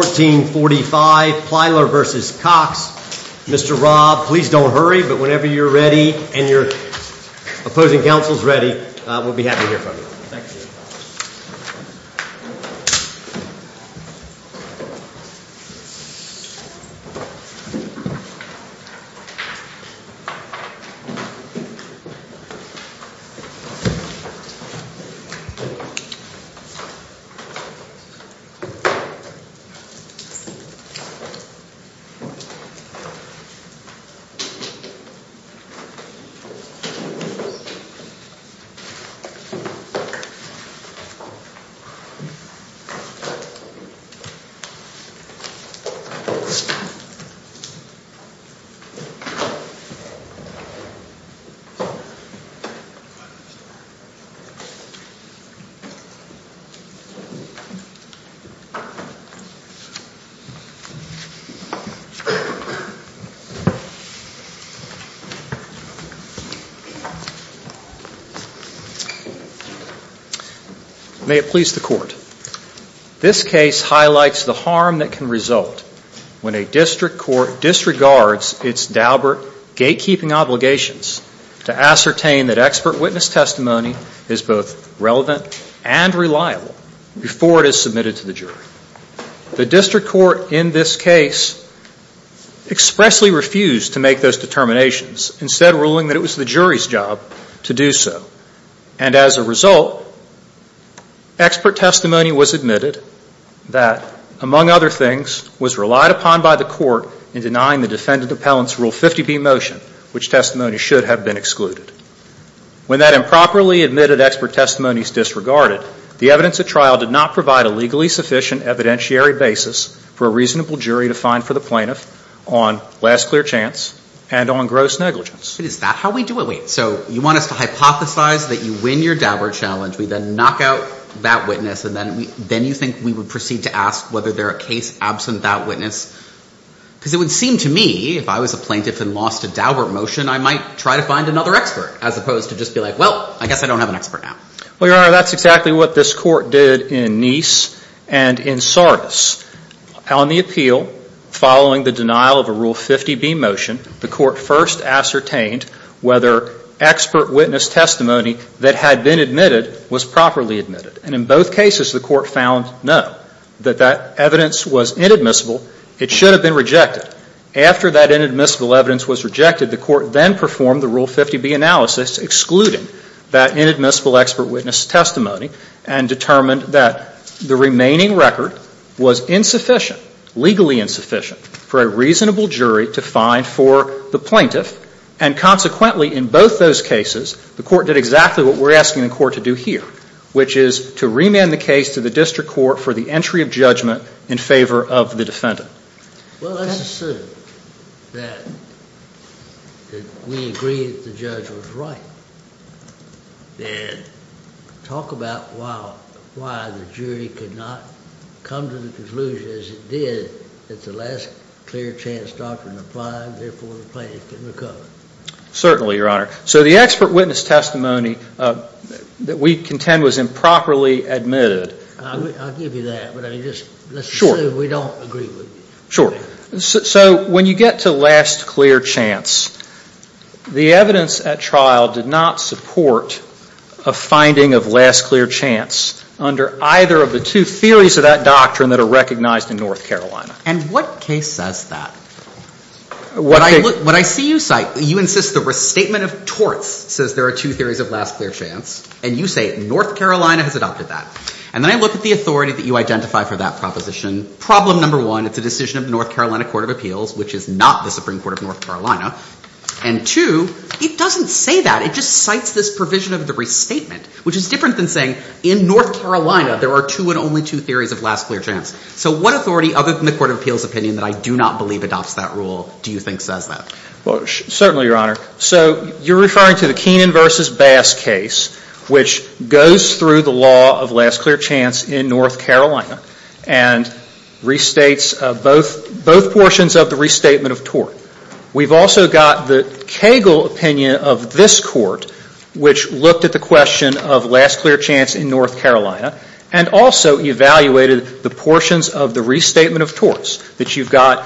1445 Plyler v. Cox. Mr. Robb, please don't hurry, but whenever you're ready and your opposing counsel's ready, we'll be happy to hear from you. May it please the Court, this case highlights the harm that can result when a district court disregards its dalbert gatekeeping obligations to ascertain that expert witness testimony is both relevant and reliable before it is submitted to the jury. The district court in this case expressly refused to make those determinations, instead ruling that it was the jury's job to do so. And as a result, expert testimony was admitted that, among other things, was relied upon by the court in denying the defendant appellant's Rule 50b motion, which testimony should have been excluded. When that improperly admitted expert testimony is disregarded, the evidence at trial did not provide a legally sufficient evidentiary basis for a reasonable jury to find for the plaintiff on last clear chance and on gross negligence. Is that how we do it? Wait, so you want us to hypothesize that you win your dalbert challenge, we then knock out that witness, and then you think we would proceed to ask whether there are case absent that witness? Because it would seem to me, if I was a plaintiff and lost a dalbert motion, I might try to find another expert, as opposed to just be like, well, I guess I don't have an expert now. Well, Your Honor, that's exactly what this court did in Nice and in Sardis. On the appeal, following the denial of a Rule 50b motion, the court first ascertained whether expert witness testimony that had been admitted was properly admitted. And in both cases, the court found no, that that evidence was inadmissible. It should have been rejected. But after that inadmissible evidence was rejected, the court then performed the Rule 50b analysis, excluding that inadmissible expert witness testimony, and determined that the remaining record was insufficient, legally insufficient, for a reasonable jury to find for the plaintiff. And consequently, in both those cases, the court did exactly what we're asking the court to do here, which is to remand the case to the district court for the entry of judgment in favor of the defendant. Well, let's assume that we agree that the judge was right, then talk about why the jury could not come to the conclusion, as it did, that the last clear chance doctrine applied, therefore the plaintiff can recover. Certainly, Your Honor. So the expert witness testimony that we contend was improperly admitted. I'll give you that. Sure. So when you get to last clear chance, the evidence at trial did not support a finding of last clear chance under either of the two theories of that doctrine that are recognized in North Carolina. And what case says that? What I see you cite, you insist the restatement of torts says there are two theories of last clear chance. And you say North Carolina has adopted that. And then I look at the authority that you identify for that proposition. Problem number one, it's a decision of the North Carolina Court of Appeals, which is not the Supreme Court of North Carolina. And two, it doesn't say that. It just cites this provision of the restatement, which is different than saying in North Carolina, there are two and only two theories of last clear chance. So what authority, other than the Court of Appeals' opinion that I do not believe adopts that rule, do you think says that? Well, certainly, Your Honor. So you're referring to the Keenan v. Bass case, which goes through the law of last clear chance in North Carolina and restates both portions of the restatement of tort. We've also got the Cagle opinion of this Court, which looked at the question of last clear chance in North Carolina and also evaluated the portions of the restatement of torts that you've got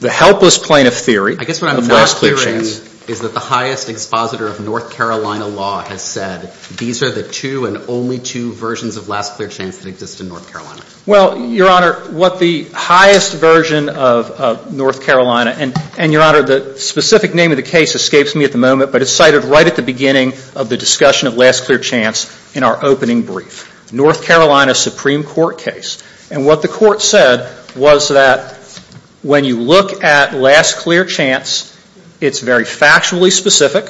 the helpless plaintiff theory of last clear chance. So what you're saying is that the highest expositor of North Carolina law has said, these are the two and only two versions of last clear chance that exist in North Carolina. Well, Your Honor, what the highest version of North Carolina, and Your Honor, the specific name of the case escapes me at the moment, but it's cited right at the beginning of the discussion of last clear chance in our opening brief. North Carolina Supreme Court case. And what the Court said was that when you look at last clear chance, it's very factually specific,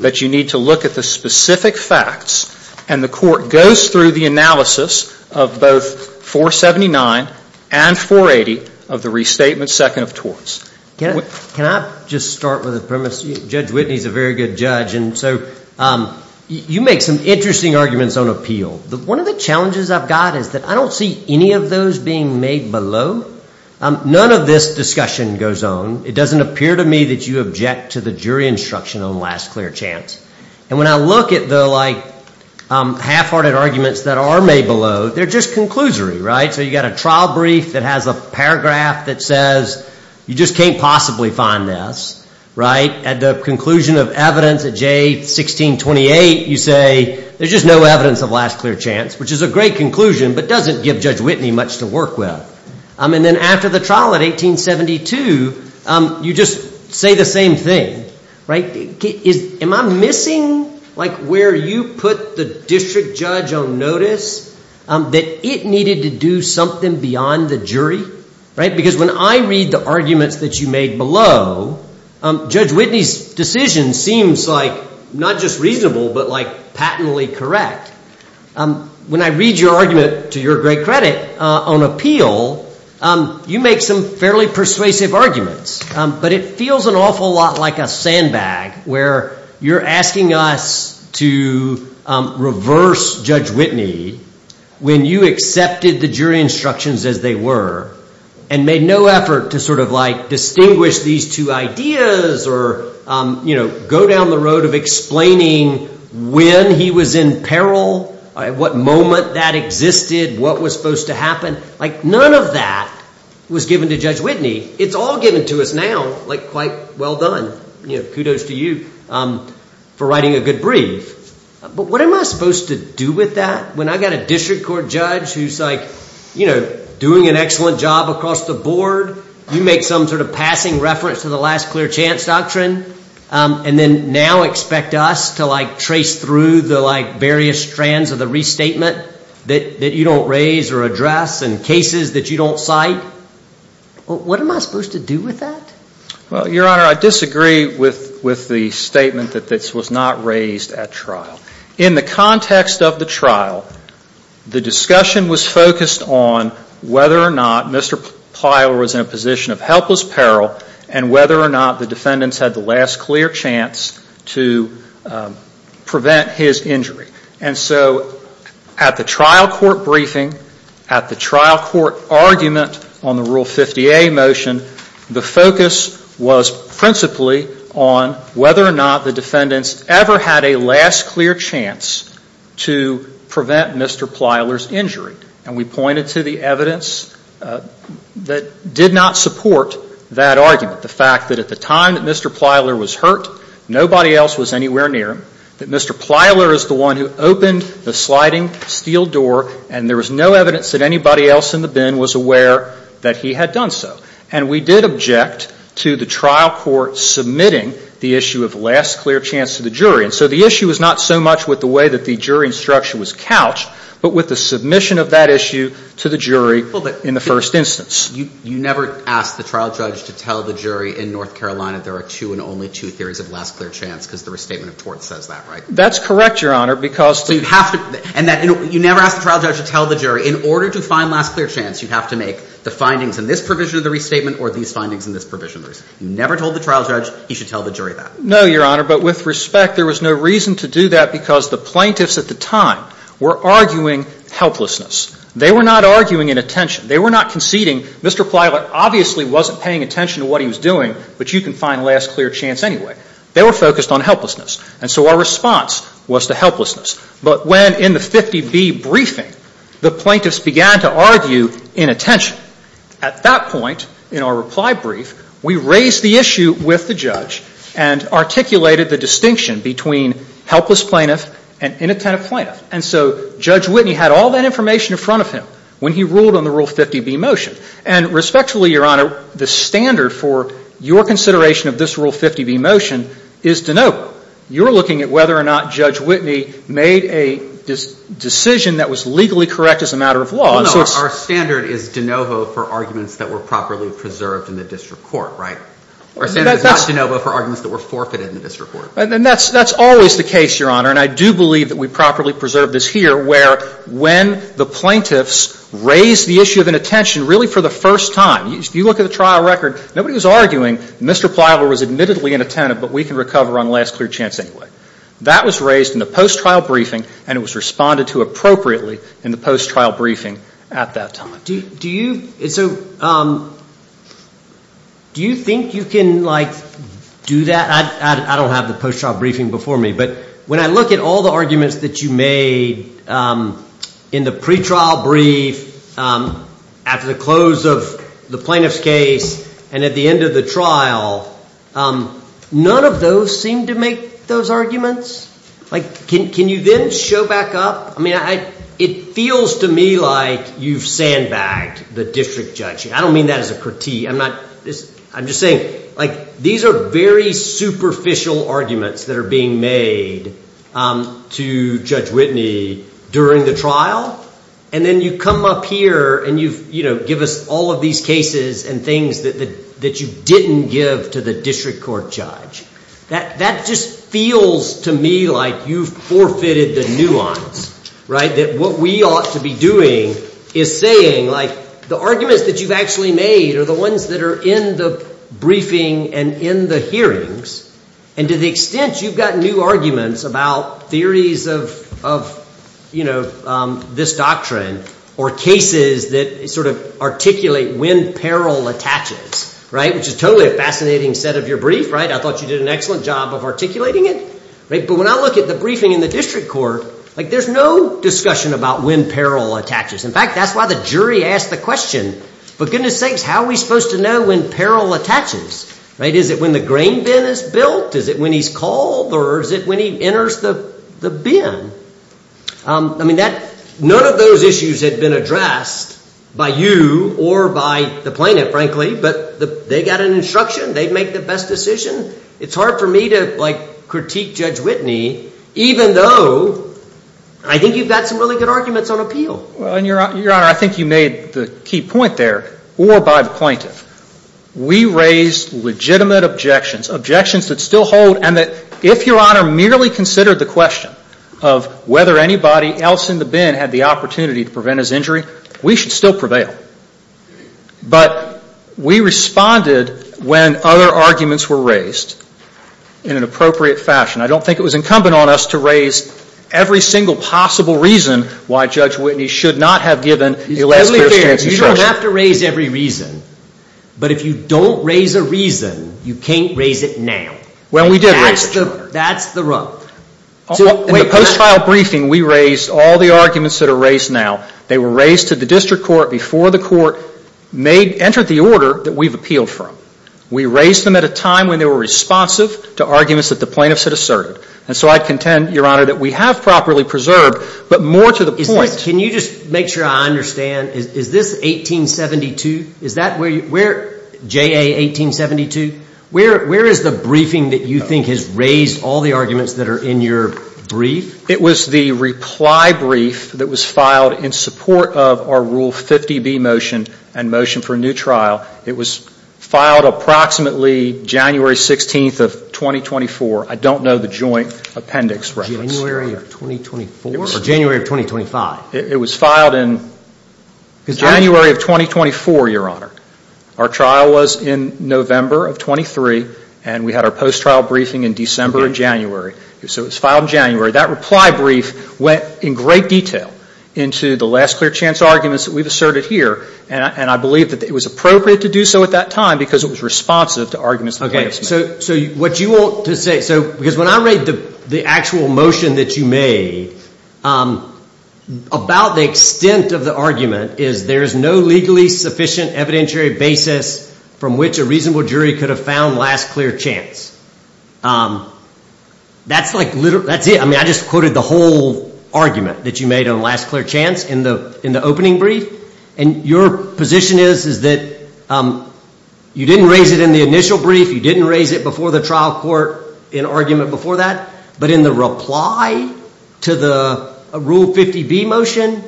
but you need to look at the specific facts. And the Court goes through the analysis of both 479 and 480 of the restatement second of torts. Can I just start with a premise? Judge Whitney is a very good judge, and so you make some interesting arguments on appeal. One of the challenges I've got is that I don't see any of those being made below. None of this discussion goes on. It doesn't appear to me that you object to the jury instruction on last clear chance. And when I look at the, like, half-hearted arguments that are made below, they're just conclusory, right? So you've got a trial brief that has a paragraph that says you just can't possibly find this, right? At the conclusion of evidence at J1628, you say there's just no evidence of last clear chance, which is a great conclusion but doesn't give Judge Whitney much to work with. And then after the trial at 1872, you just say the same thing, right? Am I missing, like, where you put the district judge on notice that it needed to do something beyond the jury, right? Because when I read the arguments that you made below, Judge Whitney's decision seems like not just reasonable but, like, patently correct. When I read your argument, to your great credit, on appeal, you make some fairly persuasive arguments, but it feels an awful lot like a sandbag where you're asking us to reverse Judge Whitney when you accepted the jury instructions as they were and made no effort to sort of, like, distinguish these two ideas or, you know, go down the road of explaining when he was in peril, what moment that existed, what was supposed to happen. Like, none of that was given to Judge Whitney. It's all given to us now, like, quite well done. You know, kudos to you for writing a good brief. But what am I supposed to do with that when I've got a district court judge who's, like, you know, doing an excellent job across the board? You make some sort of passing reference to the last clear chance doctrine and then now expect us to, like, trace through the, like, various strands of the restatement that you don't raise or address and cases that you don't cite? What am I supposed to do with that? Well, Your Honor, I disagree with the statement that this was not raised at trial. In the context of the trial, the discussion was focused on whether or not Mr. Pyle was in a position of helpless peril and whether or not the defendants had the last clear chance to prevent his injury. And so at the trial court briefing, at the trial court argument on the Rule 50A motion, the focus was principally on whether or not the defendants ever had a last clear chance to prevent Mr. Plyler's injury. And we pointed to the evidence that did not support that argument, the fact that at the time that Mr. Plyler was hurt, nobody else was anywhere near him, that Mr. Plyler is the one who opened the sliding steel door and there was no evidence that anybody else in the bin was aware that he had done so. And we did object to the trial court submitting the issue of last clear chance to the jury. And so the issue was not so much with the way that the jury instruction was couched, but with the submission of that issue to the jury in the first instance. You never asked the trial judge to tell the jury in North Carolina there are two and only two theories of last clear chance because the Restatement of Torts says that, right? That's correct, Your Honor, because to – So you have to – and that – you never asked the trial judge to tell the jury, in order to find last clear chance, you have to make the findings in this provision of the Restatement or these findings in this provision of the Restatement. You never told the trial judge he should tell the jury that. No, Your Honor, but with respect, there was no reason to do that because the plaintiffs at the time were arguing helplessness. They were not arguing in attention. They were not conceding. Mr. Plyler obviously wasn't paying attention to what he was doing, but you can find last clear chance anyway. They were focused on helplessness, and so our response was to helplessness. But when, in the 50B briefing, the plaintiffs began to argue in attention, at that point in our reply brief, we raised the issue with the judge and articulated the distinction between helpless plaintiff and inattentive plaintiff. And so Judge Whitney had all that information in front of him when he ruled on the Rule 50B motion. And respectfully, Your Honor, the standard for your consideration of this Rule 50B motion is de novo. You're looking at whether or not Judge Whitney made a decision that was legally correct as a matter of law. No, no. Our standard is de novo for arguments that were properly preserved in the district court, right? Our standard is not de novo for arguments that were forfeited in the district court. And that's always the case, Your Honor, and I do believe that we properly preserve this here where when the plaintiffs raise the issue of inattention really for the first time. If you look at the trial record, nobody was arguing Mr. Pliable was admittedly inattentive, but we can recover on last clear chance anyway. That was raised in the post-trial briefing, and it was responded to appropriately in the post-trial briefing at that time. Do you think you can, like, do that? I don't have the post-trial briefing before me, but when I look at all the arguments that you made in the pretrial brief after the close of the plaintiff's case and at the end of the trial, none of those seem to make those arguments. Like, can you then show back up? I mean, it feels to me like you've sandbagged the district judge. I don't mean that as a critique. I'm just saying, like, these are very superficial arguments that are being made to Judge Whitney during the trial, and then you come up here and you give us all of these cases and things that you didn't give to the district court judge. That just feels to me like you've forfeited the nuance, right, that what we ought to be doing is saying, like, the arguments that you've actually made are the ones that are in the briefing and in the hearings, and to the extent you've got new arguments about theories of this doctrine or cases that sort of articulate when peril attaches, right, which is totally a fascinating set of your brief, right? I thought you did an excellent job of articulating it, right? But when I look at the briefing in the district court, like, there's no discussion about when peril attaches. In fact, that's why the jury asked the question, for goodness sakes, how are we supposed to know when peril attaches, right? Is it when the grain bin is built? Is it when he's called? Or is it when he enters the bin? I mean, none of those issues had been addressed by you or by the plaintiff, frankly, but they got an instruction. They'd make the best decision. It's hard for me to, like, critique Judge Whitney, even though I think you've got some really good arguments on appeal. Your Honor, I think you made the key point there, or by the plaintiff. We raised legitimate objections, objections that still hold and that if Your Honor merely considered the question of whether anybody else in the bin had the opportunity to prevent his injury, we should still prevail. But we responded when other arguments were raised in an appropriate fashion. I don't think it was incumbent on us to raise every single possible reason why Judge Whitney should not have given the last-chance instruction. You don't have to raise every reason. But if you don't raise a reason, you can't raise it now. Well, we did raise it. That's the rub. In the post-trial briefing, we raised all the arguments that are raised now. They were raised to the district court before the court entered the order that we've appealed from. We raised them at a time when they were responsive to arguments that the plaintiffs had asserted. And so I contend, Your Honor, that we have properly preserved, but more to the point. Can you just make sure I understand, is this 1872? Is that where you, where, JA 1872? Where is the briefing that you think has raised all the arguments that are in your brief? It was the reply brief that was filed in support of our Rule 50B motion and motion for a new trial. It was filed approximately January 16th of 2024. I don't know the joint appendix reference. January of 2024? Or January of 2025? It was filed in January of 2024, Your Honor. Our trial was in November of 23, and we had our post-trial briefing in December and January. So it was filed in January. That reply brief went in great detail into the last clear chance arguments that we've asserted here, and I believe that it was appropriate to do so at that time because it was responsive to arguments the plaintiffs made. What you want to say, because when I read the actual motion that you made, about the extent of the argument is there is no legally sufficient evidentiary basis from which a reasonable jury could have found last clear chance. That's it. I mean, I just quoted the whole argument that you made on last clear chance in the opening brief, and your position is that you didn't raise it in the initial brief, you didn't raise it before the trial court in argument before that, but in the reply to the Rule 50B motion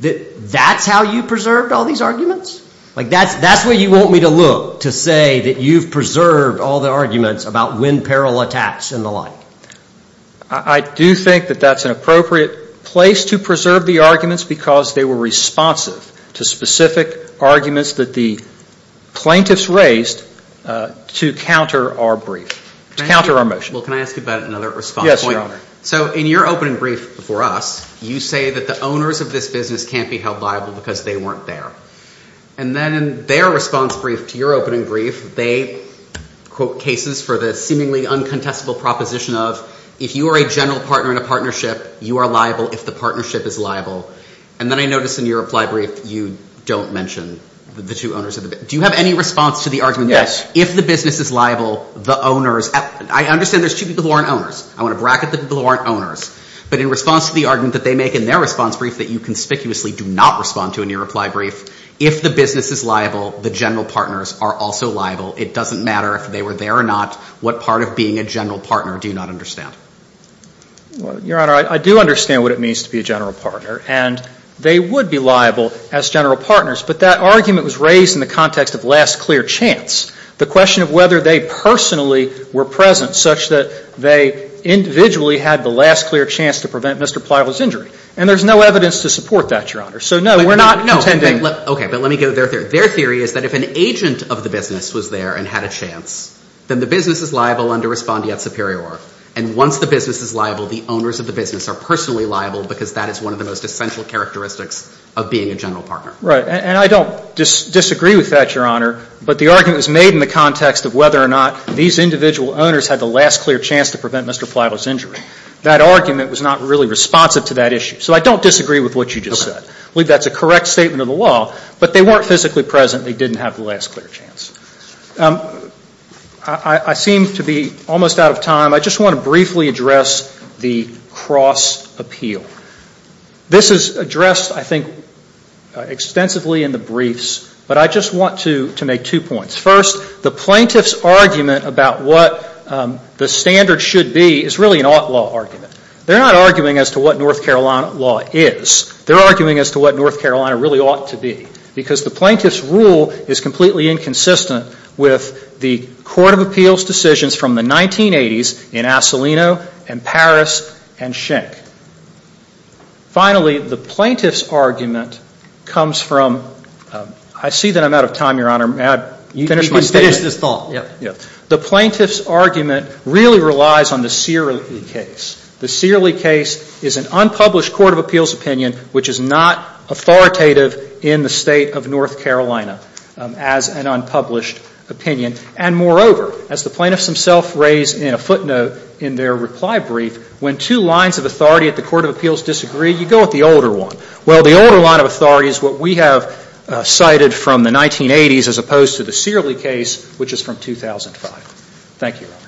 that that's how you preserved all these arguments? Like that's where you want me to look to say that you've preserved all the arguments about when peril attacks and the like. I do think that that's an appropriate place to preserve the arguments because they were responsive to specific arguments that the plaintiffs raised to counter our brief, to counter our motion. Well, can I ask you about another response point? Yes, Your Honor. So in your opening brief before us, you say that the owners of this business can't be held liable because they weren't there. And then in their response brief to your opening brief, they quote cases for the seemingly uncontestable proposition of if you are a general partner in a partnership, you are liable if the partnership is liable. And then I notice in your reply brief you don't mention the two owners of the business. Do you have any response to the argument that if the business is liable, the owners – I understand there's two people who aren't owners. I want to bracket the people who aren't owners. But in response to the argument that they make in their response brief that you conspicuously do not respond to in your reply brief, if the business is liable, the general partners are also liable. It doesn't matter if they were there or not. What part of being a general partner do you not understand? Well, Your Honor, I do understand what it means to be a general partner. And they would be liable as general partners. But that argument was raised in the context of last clear chance, the question of whether they personally were present such that they individually had the last clear chance to prevent Mr. Plowell's injury. And there's no evidence to support that, Your Honor. So, no, we're not intending – Okay. But let me get their theory. Their theory is that if an agent of the business was there and had a chance, then the business is liable under respondeat superior. And once the business is liable, the owners of the business are personally liable because that is one of the most essential characteristics of being a general partner. Right. And I don't disagree with that, Your Honor. But the argument was made in the context of whether or not these individual owners had the last clear chance to prevent Mr. Plowell's injury. That argument was not really responsive to that issue. So I don't disagree with what you just said. Okay. I believe that's a correct statement of the law, but they weren't physically present. They didn't have the last clear chance. I seem to be almost out of time. I just want to briefly address the cross appeal. This is addressed, I think, extensively in the briefs, but I just want to make two points. First, the plaintiff's argument about what the standard should be is really an ought law argument. They're not arguing as to what North Carolina law is. They're arguing as to what North Carolina really ought to be because the plaintiff's rule is completely inconsistent with the court of appeals decisions from the 1980s in Asselino and Paris and Schenck. Finally, the plaintiff's argument comes from, I see that I'm out of time, Your Honor. May I finish my statement? You can finish this thought. Yeah. The plaintiff's argument really relies on the Searley case. The Searley case is an unpublished court of appeals opinion which is not authoritative in the State of North Carolina as an unpublished opinion. And moreover, as the plaintiffs themselves raise in a footnote in their reply brief, when two lines of authority at the court of appeals disagree, you go with the older one. Well, the older line of authority is what we have cited from the 1980s as opposed to the Searley case which is from 2005. Thank you, Your Honor.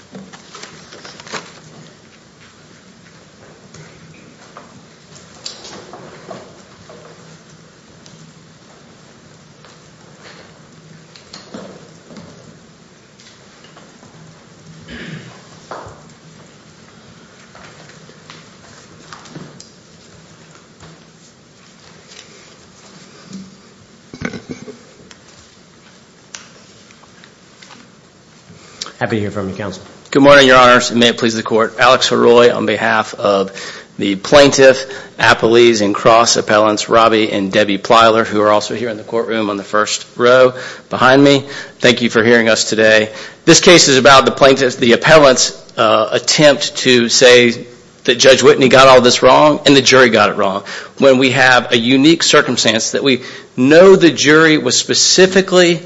Happy to hear from you, Counsel. Good morning, Your Honors, and may it please the Court. Alex Haroi on behalf of the plaintiff, appellees and cross appellants Robbie and Debbie Plyler who are also here in the courtroom on the first row behind me. Thank you for hearing us today. This case is about the plaintiff's, the appellant's attempt to say that Judge Whitney got all this wrong and the jury got it wrong. When we have a unique circumstance that we know the jury was specifically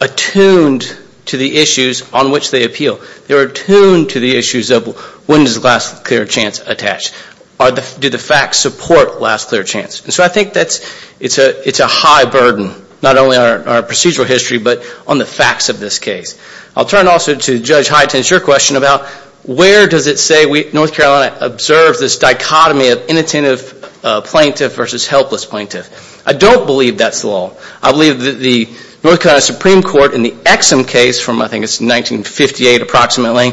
attuned to the issues on which they appeal. They were attuned to the issues of when is the last clear chance attached? Do the facts support last clear chance? And so I think that's, it's a high burden, not only on our procedural history but on the facts of this case. I'll turn also to Judge Hytens, your question about where does it say North Carolina observes this dichotomy of inattentive plaintiff versus helpless plaintiff. I don't believe that's the law. I believe that the North Carolina Supreme Court in the Exum case from I think it's 1958 approximately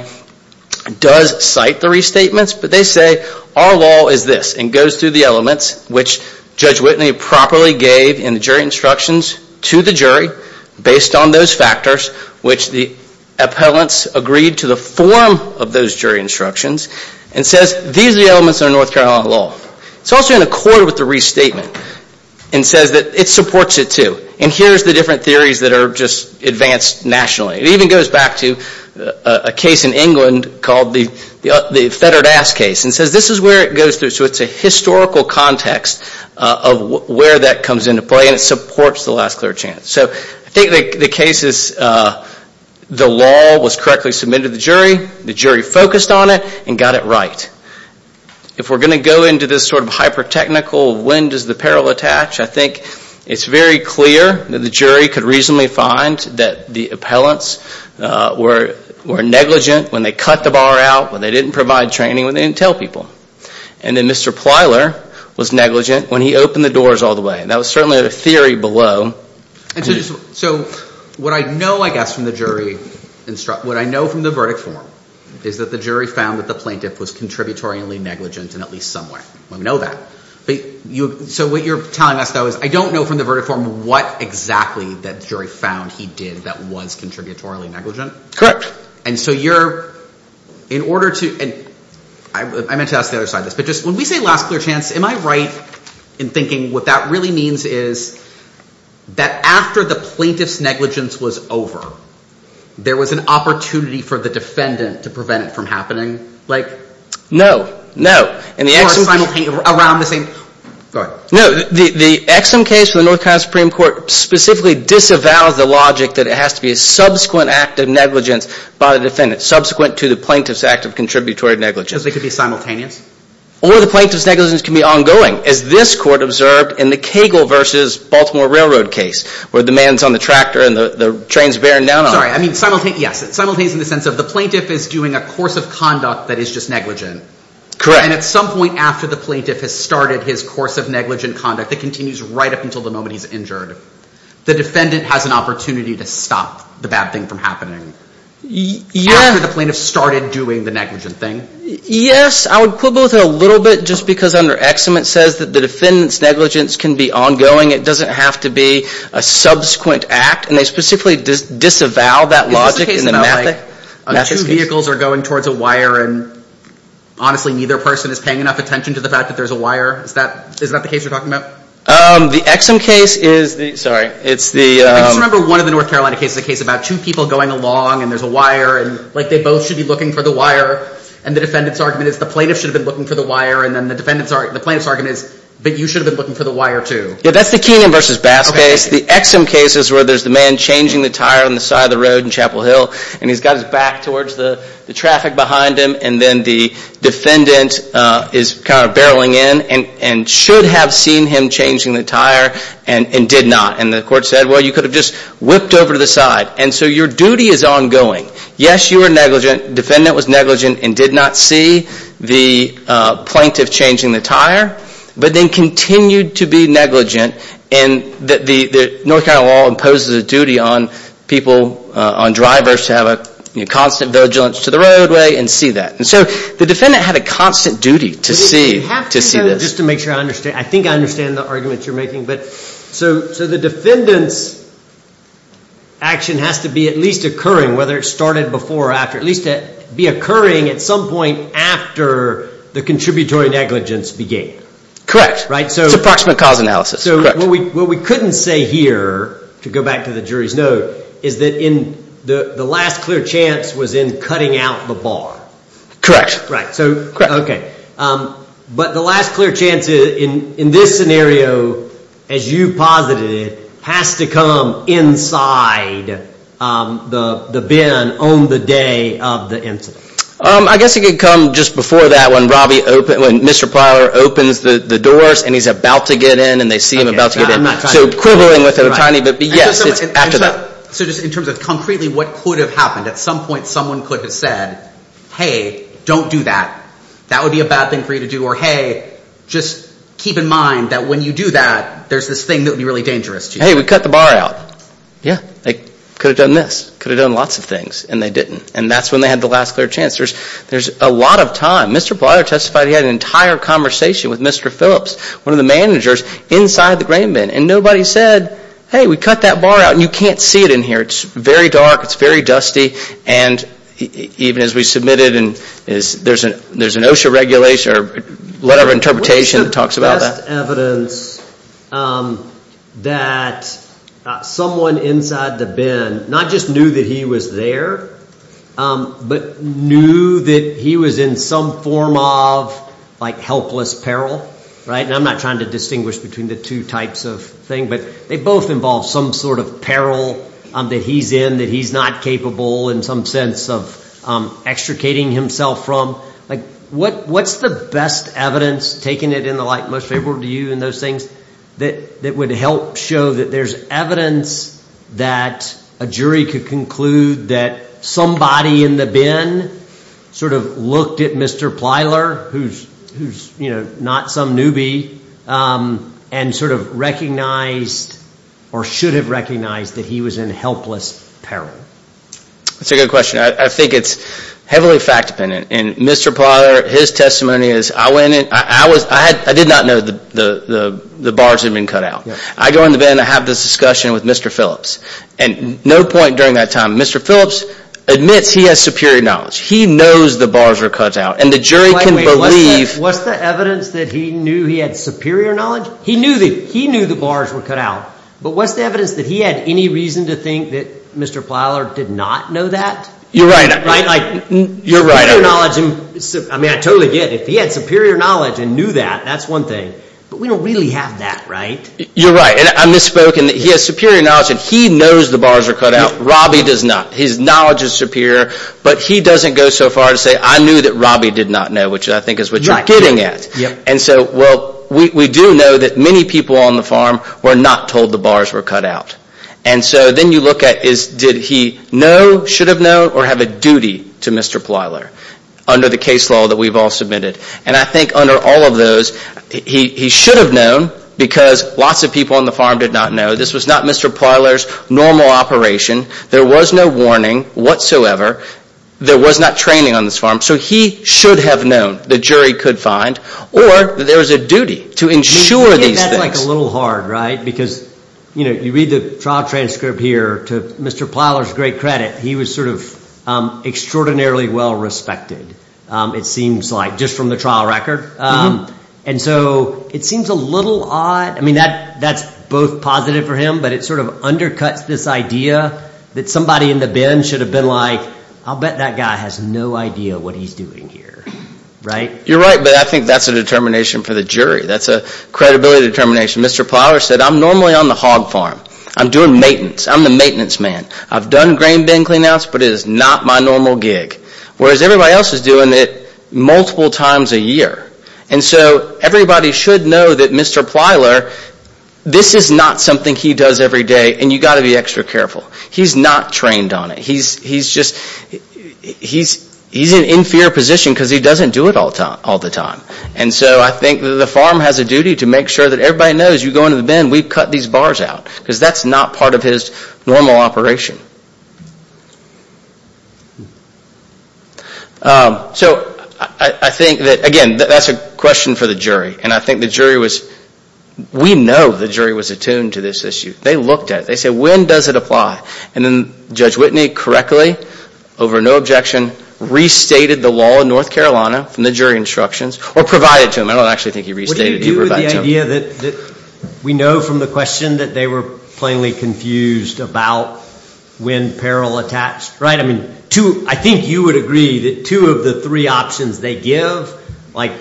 does cite the restatements. But they say our law is this and goes through the elements which Judge Whitney properly gave in the jury instructions to the jury based on those factors which the appellants agreed to the form of those jury instructions and says these are the elements of North Carolina law. It's also in accord with the restatement and says that it supports it too. And here's the different theories that are just advanced nationally. It even goes back to a case in England called the Fetterdass case and says this is where it goes through. So it's a historical context of where that comes into play and it supports the last clear chance. So I think the case is the law was correctly submitted to the jury. The jury focused on it and got it right. If we're going to go into this sort of hyper technical when does the peril attach, I think it's very clear that the jury could reasonably find that the appellants were negligent when they cut the bar out, when they didn't provide training, when they didn't tell people. And then Mr. Plyler was negligent when he opened the doors all the way. And that was certainly a theory below. So what I know I guess from the jury, what I know from the verdict form, is that the jury found that the plaintiff was contributory negligent in at least some way. We know that. So what you're telling us though is I don't know from the verdict form what exactly that jury found he did that was contributory negligent. Correct. And so you're, in order to, I meant to ask the other side this, but just when we say last clear chance, am I right in thinking what that really means is that after the plaintiff's negligence was over, there was an opportunity for the defendant to prevent it from happening? No, no. Or around the same, go ahead. No, the Exum case for the North Carolina Supreme Court specifically disavows the logic that it has to be a subsequent act of negligence by the defendant, subsequent to the plaintiff's act of contributory negligence. Because they could be simultaneous? Or the plaintiff's negligence can be ongoing, as this court observed in the Cagle versus Baltimore Railroad case, where the man's on the tractor and the train's bearing down on him. Sorry, I mean simultaneous, yes. Simultaneous in the sense of the plaintiff is doing a course of conduct that is just negligent. Correct. And at some point after the plaintiff has started his course of negligent conduct that continues right up until the moment he's injured, the defendant has an opportunity to stop the bad thing from happening. Yeah. After the plaintiff started doing the negligent thing. Yes, I would quibble with it a little bit just because under Exum it says that the defendant's negligence can be ongoing. It doesn't have to be a subsequent act. And they specifically disavow that logic. Is this a case about like two vehicles are going towards a wire and honestly neither person is paying enough attention to the fact that there's a wire? Is that the case you're talking about? The Exum case is the, sorry, it's the. I just remember one of the North Carolina cases, a case about two people going along and there's a wire. And like they both should be looking for the wire. And the defendant's argument is the plaintiff should have been looking for the wire. And then the defendant's argument is, but you should have been looking for the wire too. Yeah, that's the Keenan versus Bass case. The Exum case is where there's the man changing the tire on the side of the road in Chapel Hill. And he's got his back towards the traffic behind him. And then the defendant is kind of barreling in and should have seen him changing the tire and did not. And the court said, well, you could have just whipped over to the side. And so your duty is ongoing. Yes, you are negligent. Defendant was negligent and did not see the plaintiff changing the tire. But then continued to be negligent. And the North Carolina law imposes a duty on people, on drivers to have a constant vigilance to the roadway and see that. And so the defendant had a constant duty to see this. I think I understand the argument you're making. So the defendant's action has to be at least occurring, whether it started before or after, at least be occurring at some point after the contributory negligence began. Correct. It's approximate cause analysis. So what we couldn't say here, to go back to the jury's note, is that the last clear chance was in cutting out the bar. Correct. Okay. But the last clear chance in this scenario, as you posited, has to come inside the bin on the day of the incident. I guess it could come just before that when Mr. Pryor opens the doors and he's about to get in and they see him about to get in. So quibbling with it a tiny bit. Yes, it's after that. So just in terms of concretely what could have happened, at some point someone could have said, hey, don't do that. That would be a bad thing for you to do. Or, hey, just keep in mind that when you do that, there's this thing that would be really dangerous to you. Hey, we cut the bar out. Yeah. They could have done this. Could have done lots of things. And they didn't. And that's when they had the last clear chance. There's a lot of time. Mr. Pryor testified he had an entire conversation with Mr. Phillips, one of the managers, inside the grain bin. And nobody said, hey, we cut that bar out. And you can't see it in here. It's very dark. It's very dusty. And even as we submit it, there's an OSHA regulation or whatever interpretation that talks about that. What is the best evidence that someone inside the bin not just knew that he was there but knew that he was in some form of helpless peril? And I'm not trying to distinguish between the two types of thing, but they both involve some sort of peril that he's in that he's not capable in some sense of extricating himself from. What's the best evidence, taking it in the light most favorable to you in those things, that would help show that there's evidence that a jury could conclude that somebody in the bin sort of looked at Mr. Plyler, who's not some newbie, and sort of recognized or should have recognized that he was in helpless peril? That's a good question. I think it's heavily fact-dependent. And Mr. Plyler, his testimony is I went in. I did not know the bars had been cut out. I go in the bin. I have this discussion with Mr. Phillips. And no point during that time. Mr. Phillips admits he has superior knowledge. He knows the bars were cut out. And the jury can believe— What's the evidence that he knew he had superior knowledge? He knew the bars were cut out. But what's the evidence that he had any reason to think that Mr. Plyler did not know that? You're right. You're right. I mean, I totally get it. If he had superior knowledge and knew that, that's one thing. But we don't really have that, right? You're right. And I misspoke in that he has superior knowledge and he knows the bars were cut out. Robby does not. His knowledge is superior. But he doesn't go so far as to say, I knew that Robby did not know, which I think is what you're getting at. And so, well, we do know that many people on the farm were not told the bars were cut out. And so then you look at, did he know, should have known, or have a duty to Mr. Plyler under the case law that we've all submitted? And I think under all of those, he should have known because lots of people on the farm did not know. This was not Mr. Plyler's normal operation. There was no warning whatsoever. There was not training on this farm. So he should have known, the jury could find, or that there was a duty to ensure these things. I think that's a little hard, right? Because you read the trial transcript here to Mr. Plyler's great credit. He was sort of extraordinarily well respected, it seems like, just from the trial record. And so it seems a little odd. I mean, that's both positive for him, but it sort of undercuts this idea that somebody in the bin should have been like, I'll bet that guy has no idea what he's doing here, right? You're right, but I think that's a determination for the jury. That's a credibility determination. Mr. Plyler said, I'm normally on the hog farm. I'm doing maintenance. I'm the maintenance man. I've done grain bin cleanouts, but it is not my normal gig. Whereas everybody else is doing it multiple times a year. And so everybody should know that Mr. Plyler, this is not something he does every day, and you've got to be extra careful. He's not trained on it. He's just, he's in an inferior position because he doesn't do it all the time. And so I think the farm has a duty to make sure that everybody knows you go into the bin, we've cut these bars out. Because that's not part of his normal operation. So I think that, again, that's a question for the jury. And I think the jury was, we know the jury was attuned to this issue. They looked at it. They said, when does it apply? And then Judge Whitney correctly, over no objection, restated the law in North Carolina from the jury instructions or provided to him. I don't actually think he restated it. What do you do with the idea that we know from the question that they were plainly confused about when peril attached? Right? I mean, I think you would agree that two of the three options they give, like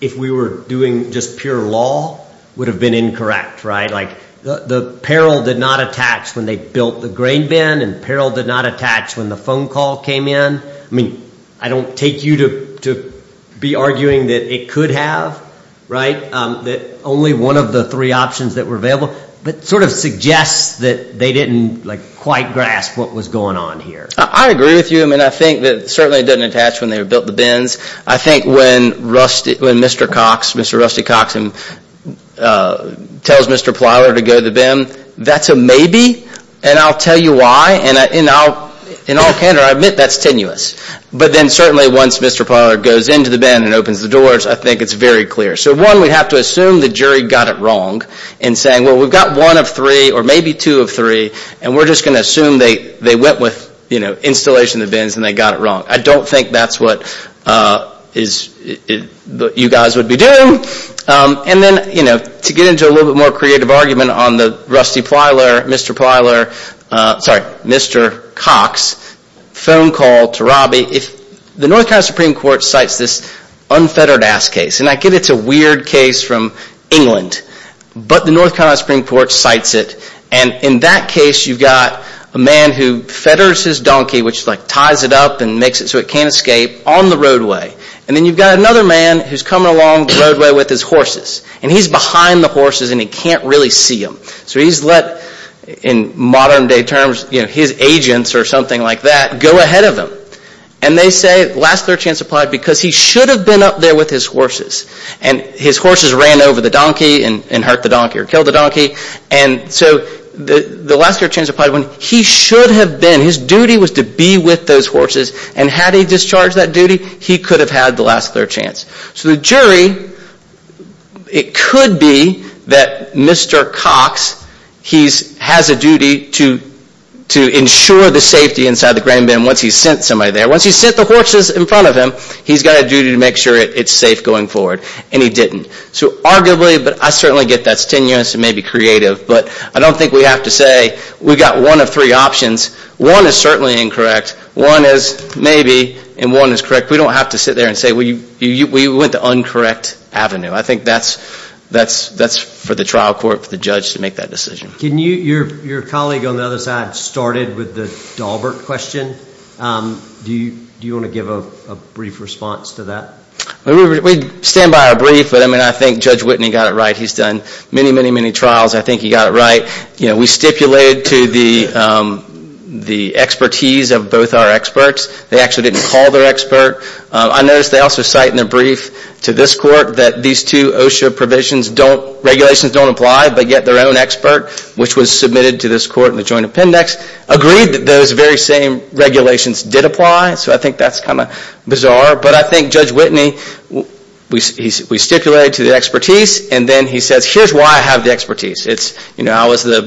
if we were doing just pure law, would have been incorrect, right? Like the peril did not attach when they built the grain bin and peril did not attach when the phone call came in. I mean, I don't take you to be arguing that it could have, right, that only one of the three options that were available. But it sort of suggests that they didn't quite grasp what was going on here. I agree with you. I mean, I think that certainly it didn't attach when they built the bins. I think when Mr. Cox, Mr. Rusty Cox, tells Mr. Plyler to go to the bin, that's a maybe, and I'll tell you why. And in all candor, I admit that's tenuous. But then certainly once Mr. Plyler goes into the bin and opens the doors, I think it's very clear. So one, we have to assume the jury got it wrong in saying, well, we've got one of three or maybe two of three, and we're just going to assume they went with installation of the bins and they got it wrong. I don't think that's what you guys would be doing. And then, you know, to get into a little bit more creative argument on the Rusty Plyler, Mr. Plyler, sorry, Mr. Cox phone call to Robbie, if the North Carolina Supreme Court cites this unfettered ass case, and I get it's a weird case from England, but the North Carolina Supreme Court cites it, and in that case you've got a man who fetters his donkey, which ties it up and makes it so it can't escape, on the roadway. And then you've got another man who's coming along the roadway with his horses. And he's behind the horses and he can't really see them. So he's let, in modern day terms, his agents or something like that go ahead of him. And they say last third chance applied because he should have been up there with his horses. And his horses ran over the donkey and hurt the donkey or killed the donkey. And so the last third chance applied when he should have been, his duty was to be with those horses. And had he discharged that duty, he could have had the last third chance. So the jury, it could be that Mr. Cox, he has a duty to ensure the safety inside the grain bin once he's sent somebody there. Once he's sent the horses in front of him, he's got a duty to make sure it's safe going forward. And he didn't. So arguably, but I certainly get that's tenuous and maybe creative. But I don't think we have to say we've got one of three options. One is certainly incorrect. One is maybe. And one is correct. We don't have to sit there and say we went the uncorrect avenue. I think that's for the trial court, for the judge to make that decision. Can you, your colleague on the other side started with the Dahlberg question. Do you want to give a brief response to that? We stand by our brief, but I think Judge Whitney got it right. He's done many, many, many trials. I think he got it right. We stipulated to the expertise of both our experts. They actually didn't call their expert. I noticed they also cite in their brief to this court that these two OSHA provisions don't, regulations don't apply, but yet their own expert, which was submitted to this court in the joint appendix, agreed that those very same regulations did apply. So I think that's kind of bizarre. But I think Judge Whitney, we stipulated to the expertise, and then he says, here's why I have the expertise. I was the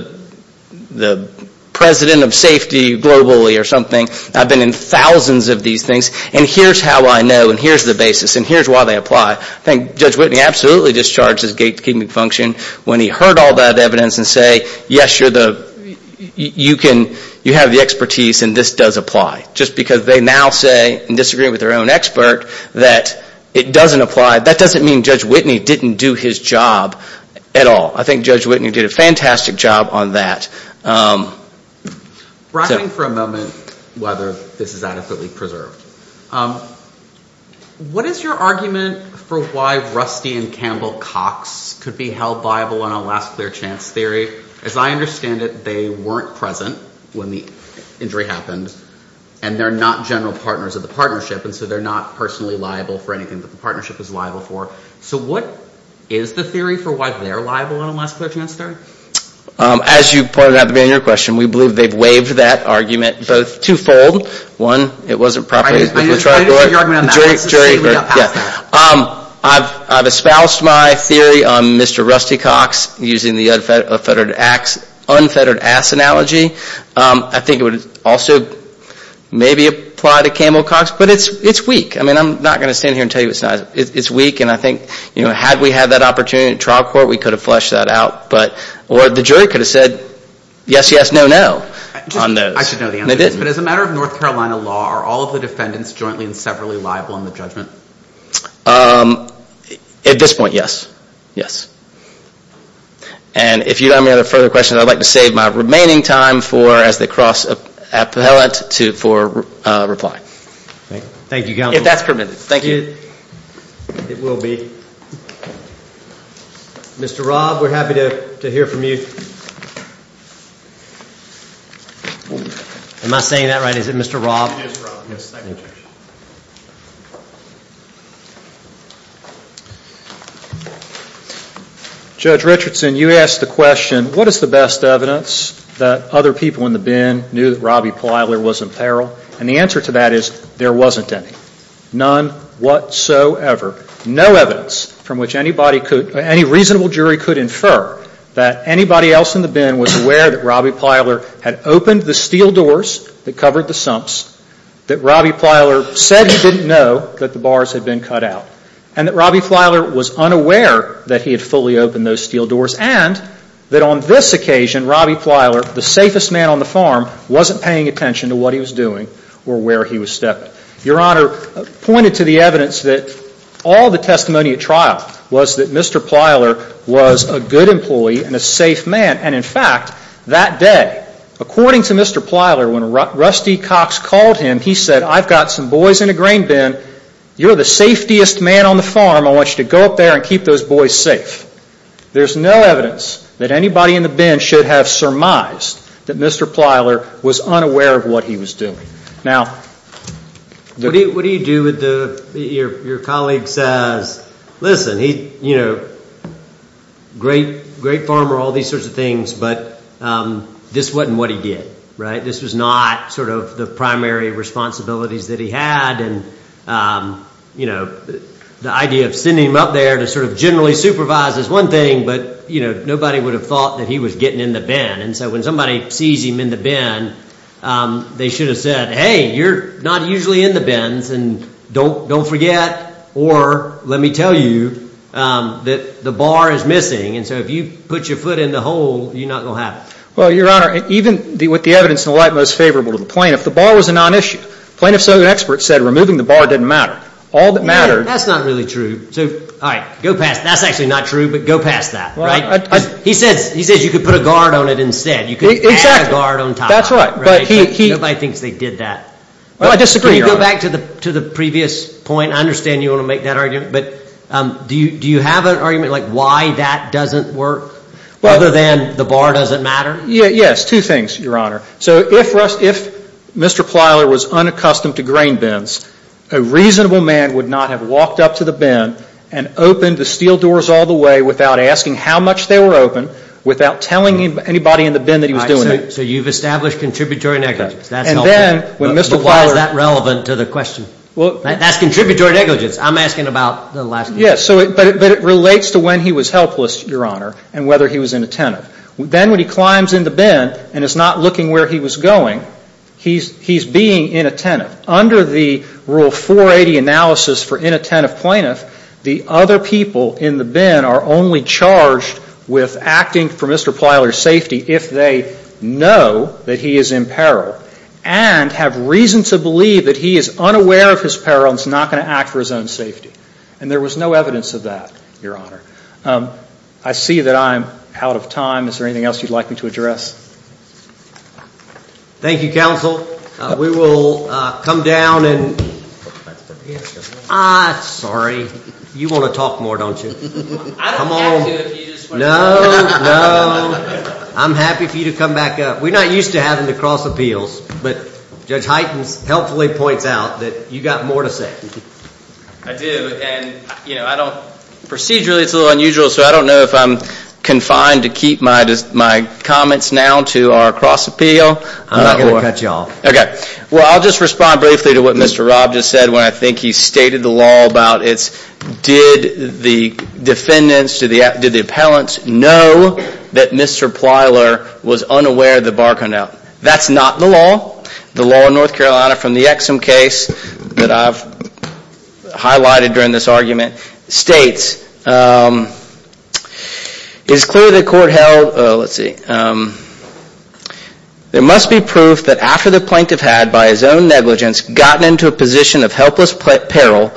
president of safety globally or something. I've been in thousands of these things, and here's how I know, and here's the basis, and here's why they apply. I think Judge Whitney absolutely discharged his gatekeeping function when he heard all that evidence and said, yes, you're the, you can, you have the expertise, and this does apply. Just because they now say, in disagreeing with their own expert, that it doesn't apply, that doesn't mean Judge Whitney didn't do his job at all. I think Judge Whitney did a fantastic job on that. We're asking for a moment whether this is adequately preserved. What is your argument for why Rusty and Campbell-Cox could be held liable on a last-clear-chance theory? As I understand it, they weren't present when the injury happened, and they're not general partners of the partnership, and so they're not personally liable for anything that the partnership is liable for. So what is the theory for why they're liable on a last-clear-chance theory? As you pointed out at the beginning of your question, we believe they've waived that argument both twofold. One, it wasn't properly – I didn't hear your argument on that. I've espoused my theory on Mr. Rusty-Cox using the unfettered-ass analogy. I think it would also maybe apply to Campbell-Cox, but it's weak. I'm not going to stand here and tell you it's not. It's weak, and I think had we had that opportunity in trial court, we could have fleshed that out. Or the jury could have said yes, yes, no, no on those. I should know the answer to this, but as a matter of North Carolina law, are all of the defendants jointly and severally liable in the judgment? At this point, yes, yes. And if you don't have any further questions, I'd like to save my remaining time for as they cross appellate for reply. Thank you, counsel. If that's permitted. Thank you. It will be. Mr. Robb, we're happy to hear from you. Am I saying that right? Is it Mr. Robb? It is Robb. Yes, thank you, Judge. Judge Richardson, you asked the question, what is the best evidence that other people in the bin knew that Robbie Plyler was in peril? And the answer to that is there wasn't any. None whatsoever. No evidence from which any reasonable jury could infer that anybody else in the bin was aware that Robbie Plyler had opened the steel doors that covered the sumps, that Robbie Plyler said he didn't know that the bars had been cut out, and that Robbie Plyler was unaware that he had fully opened those steel doors, and that on this occasion, Robbie Plyler, the safest man on the farm, wasn't paying attention to what he was doing or where he was stepping. Your Honor, pointed to the evidence that all the testimony at trial was that Mr. Plyler was a good employee and a safe man. And in fact, that day, according to Mr. Plyler, when Rusty Cox called him, he said, I've got some boys in a grain bin. You're the safest man on the farm. I want you to go up there and keep those boys safe. There's no evidence that anybody in the bin should have surmised that Mr. Plyler was unaware of what he was doing. Now, what do you do when your colleague says, listen, he's a great farmer, all these sorts of things, but this wasn't what he did, right? This was not sort of the primary responsibilities that he had, and the idea of sending him up there to sort of generally supervise is one thing, but nobody would have thought that he was getting in the bin. And so when somebody sees him in the bin, they should have said, hey, you're not usually in the bins, and don't forget, or let me tell you that the bar is missing, and so if you put your foot in the hole, you're not going to have it. Well, Your Honor, even with the evidence in the light most favorable to the plaintiff, the bar was a non-issue. Plaintiff's own expert said removing the bar didn't matter. All that mattered— Yeah, that's not really true. So, all right, go past—that's actually not true, but go past that, right? He says you could put a guard on it instead. Exactly. You could add a guard on top. That's right, but he— Nobody thinks they did that. Well, I disagree, Your Honor. Can you go back to the previous point? I understand you want to make that argument, but do you have an argument, like why that doesn't work other than the bar doesn't matter? Yes, two things, Your Honor. So if Mr. Plyler was unaccustomed to grain bins, a reasonable man would not have walked up to the bin and opened the steel doors all the way without asking how much they were open, without telling anybody in the bin that he was doing it. So you've established contributory negligence. And then when Mr. Plyler— But why is that relevant to the question? That's contributory negligence. I'm asking about the last— Yes, but it relates to when he was helpless, Your Honor, and whether he was inattentive. Then when he climbs in the bin and is not looking where he was going, he's being inattentive. Under the Rule 480 analysis for inattentive plaintiff, the other people in the bin are only charged with acting for Mr. Plyler's safety if they know that he is in peril and have reason to believe that he is unaware of his peril and is not going to act for his own safety. And there was no evidence of that, Your Honor. I see that I'm out of time. Is there anything else you'd like me to address? Thank you, counsel. We will come down and— Ah, sorry. You want to talk more, don't you? I don't have to if you just want to— No, no. I'm happy for you to come back up. We're not used to having to cross appeals, but Judge Hytens helpfully points out that you've got more to say. I do, and, you know, I don't— Procedurally, it's a little unusual, so I don't know if I'm confined to keep my comments now to our cross appeal. I'm not going to cut you off. Okay. Well, I'll just respond briefly to what Mr. Robb just said when I think he stated the law about it's— did the defendants, did the appellants know that Mr. Plyler was unaware the bar turned out? That's not the law. The law in North Carolina from the Exum case that I've highlighted during this argument states, it's clear the court held, let's see, there must be proof that after the plaintiff had, by his own negligence, gotten into a position of helpless peril,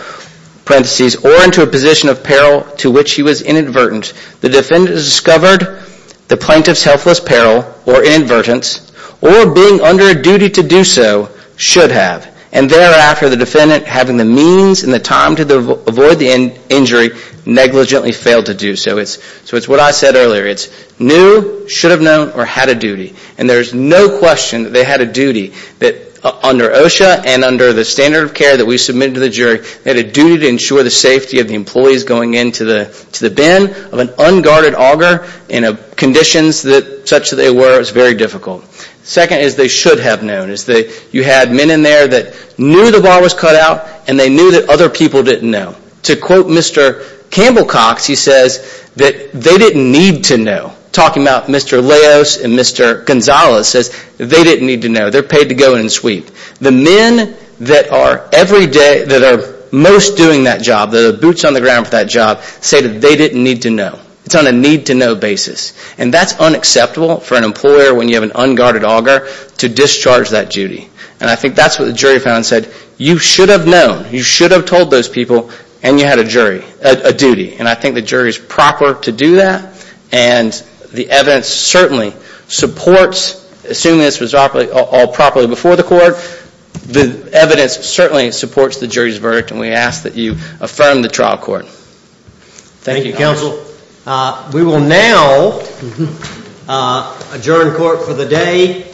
parentheses, or into a position of peril to which he was inadvertent, the defendant has discovered the plaintiff's helpless peril or inadvertence or being under a duty to do so should have, and thereafter the defendant having the means and the time to avoid the injury negligently failed to do so. So it's what I said earlier. It's knew, should have known, or had a duty. And there's no question that they had a duty that under OSHA and under the standard of care that we submitted to the jury, they had a duty to ensure the safety of the employees going into the bin of an unguarded auger in conditions such that they were very difficult. Second is they should have known. You had men in there that knew the bar was cut out and they knew that other people didn't know. To quote Mr. Campbell Cox, he says that they didn't need to know. Talking about Mr. Leos and Mr. Gonzalez says they didn't need to know. They're paid to go in and sweep. The men that are most doing that job, the boots on the ground for that job, say that they didn't need to know. It's on a need-to-know basis, and that's unacceptable for an employer when you have an unguarded auger to discharge that duty. And I think that's what the jury found and said you should have known. You should have told those people, and you had a duty. And I think the jury is proper to do that, and the evidence certainly supports, assuming this was all properly before the court, the evidence certainly supports the jury's verdict, and we ask that you affirm the trial court. Thank you, counsel. We will now adjourn court for the day.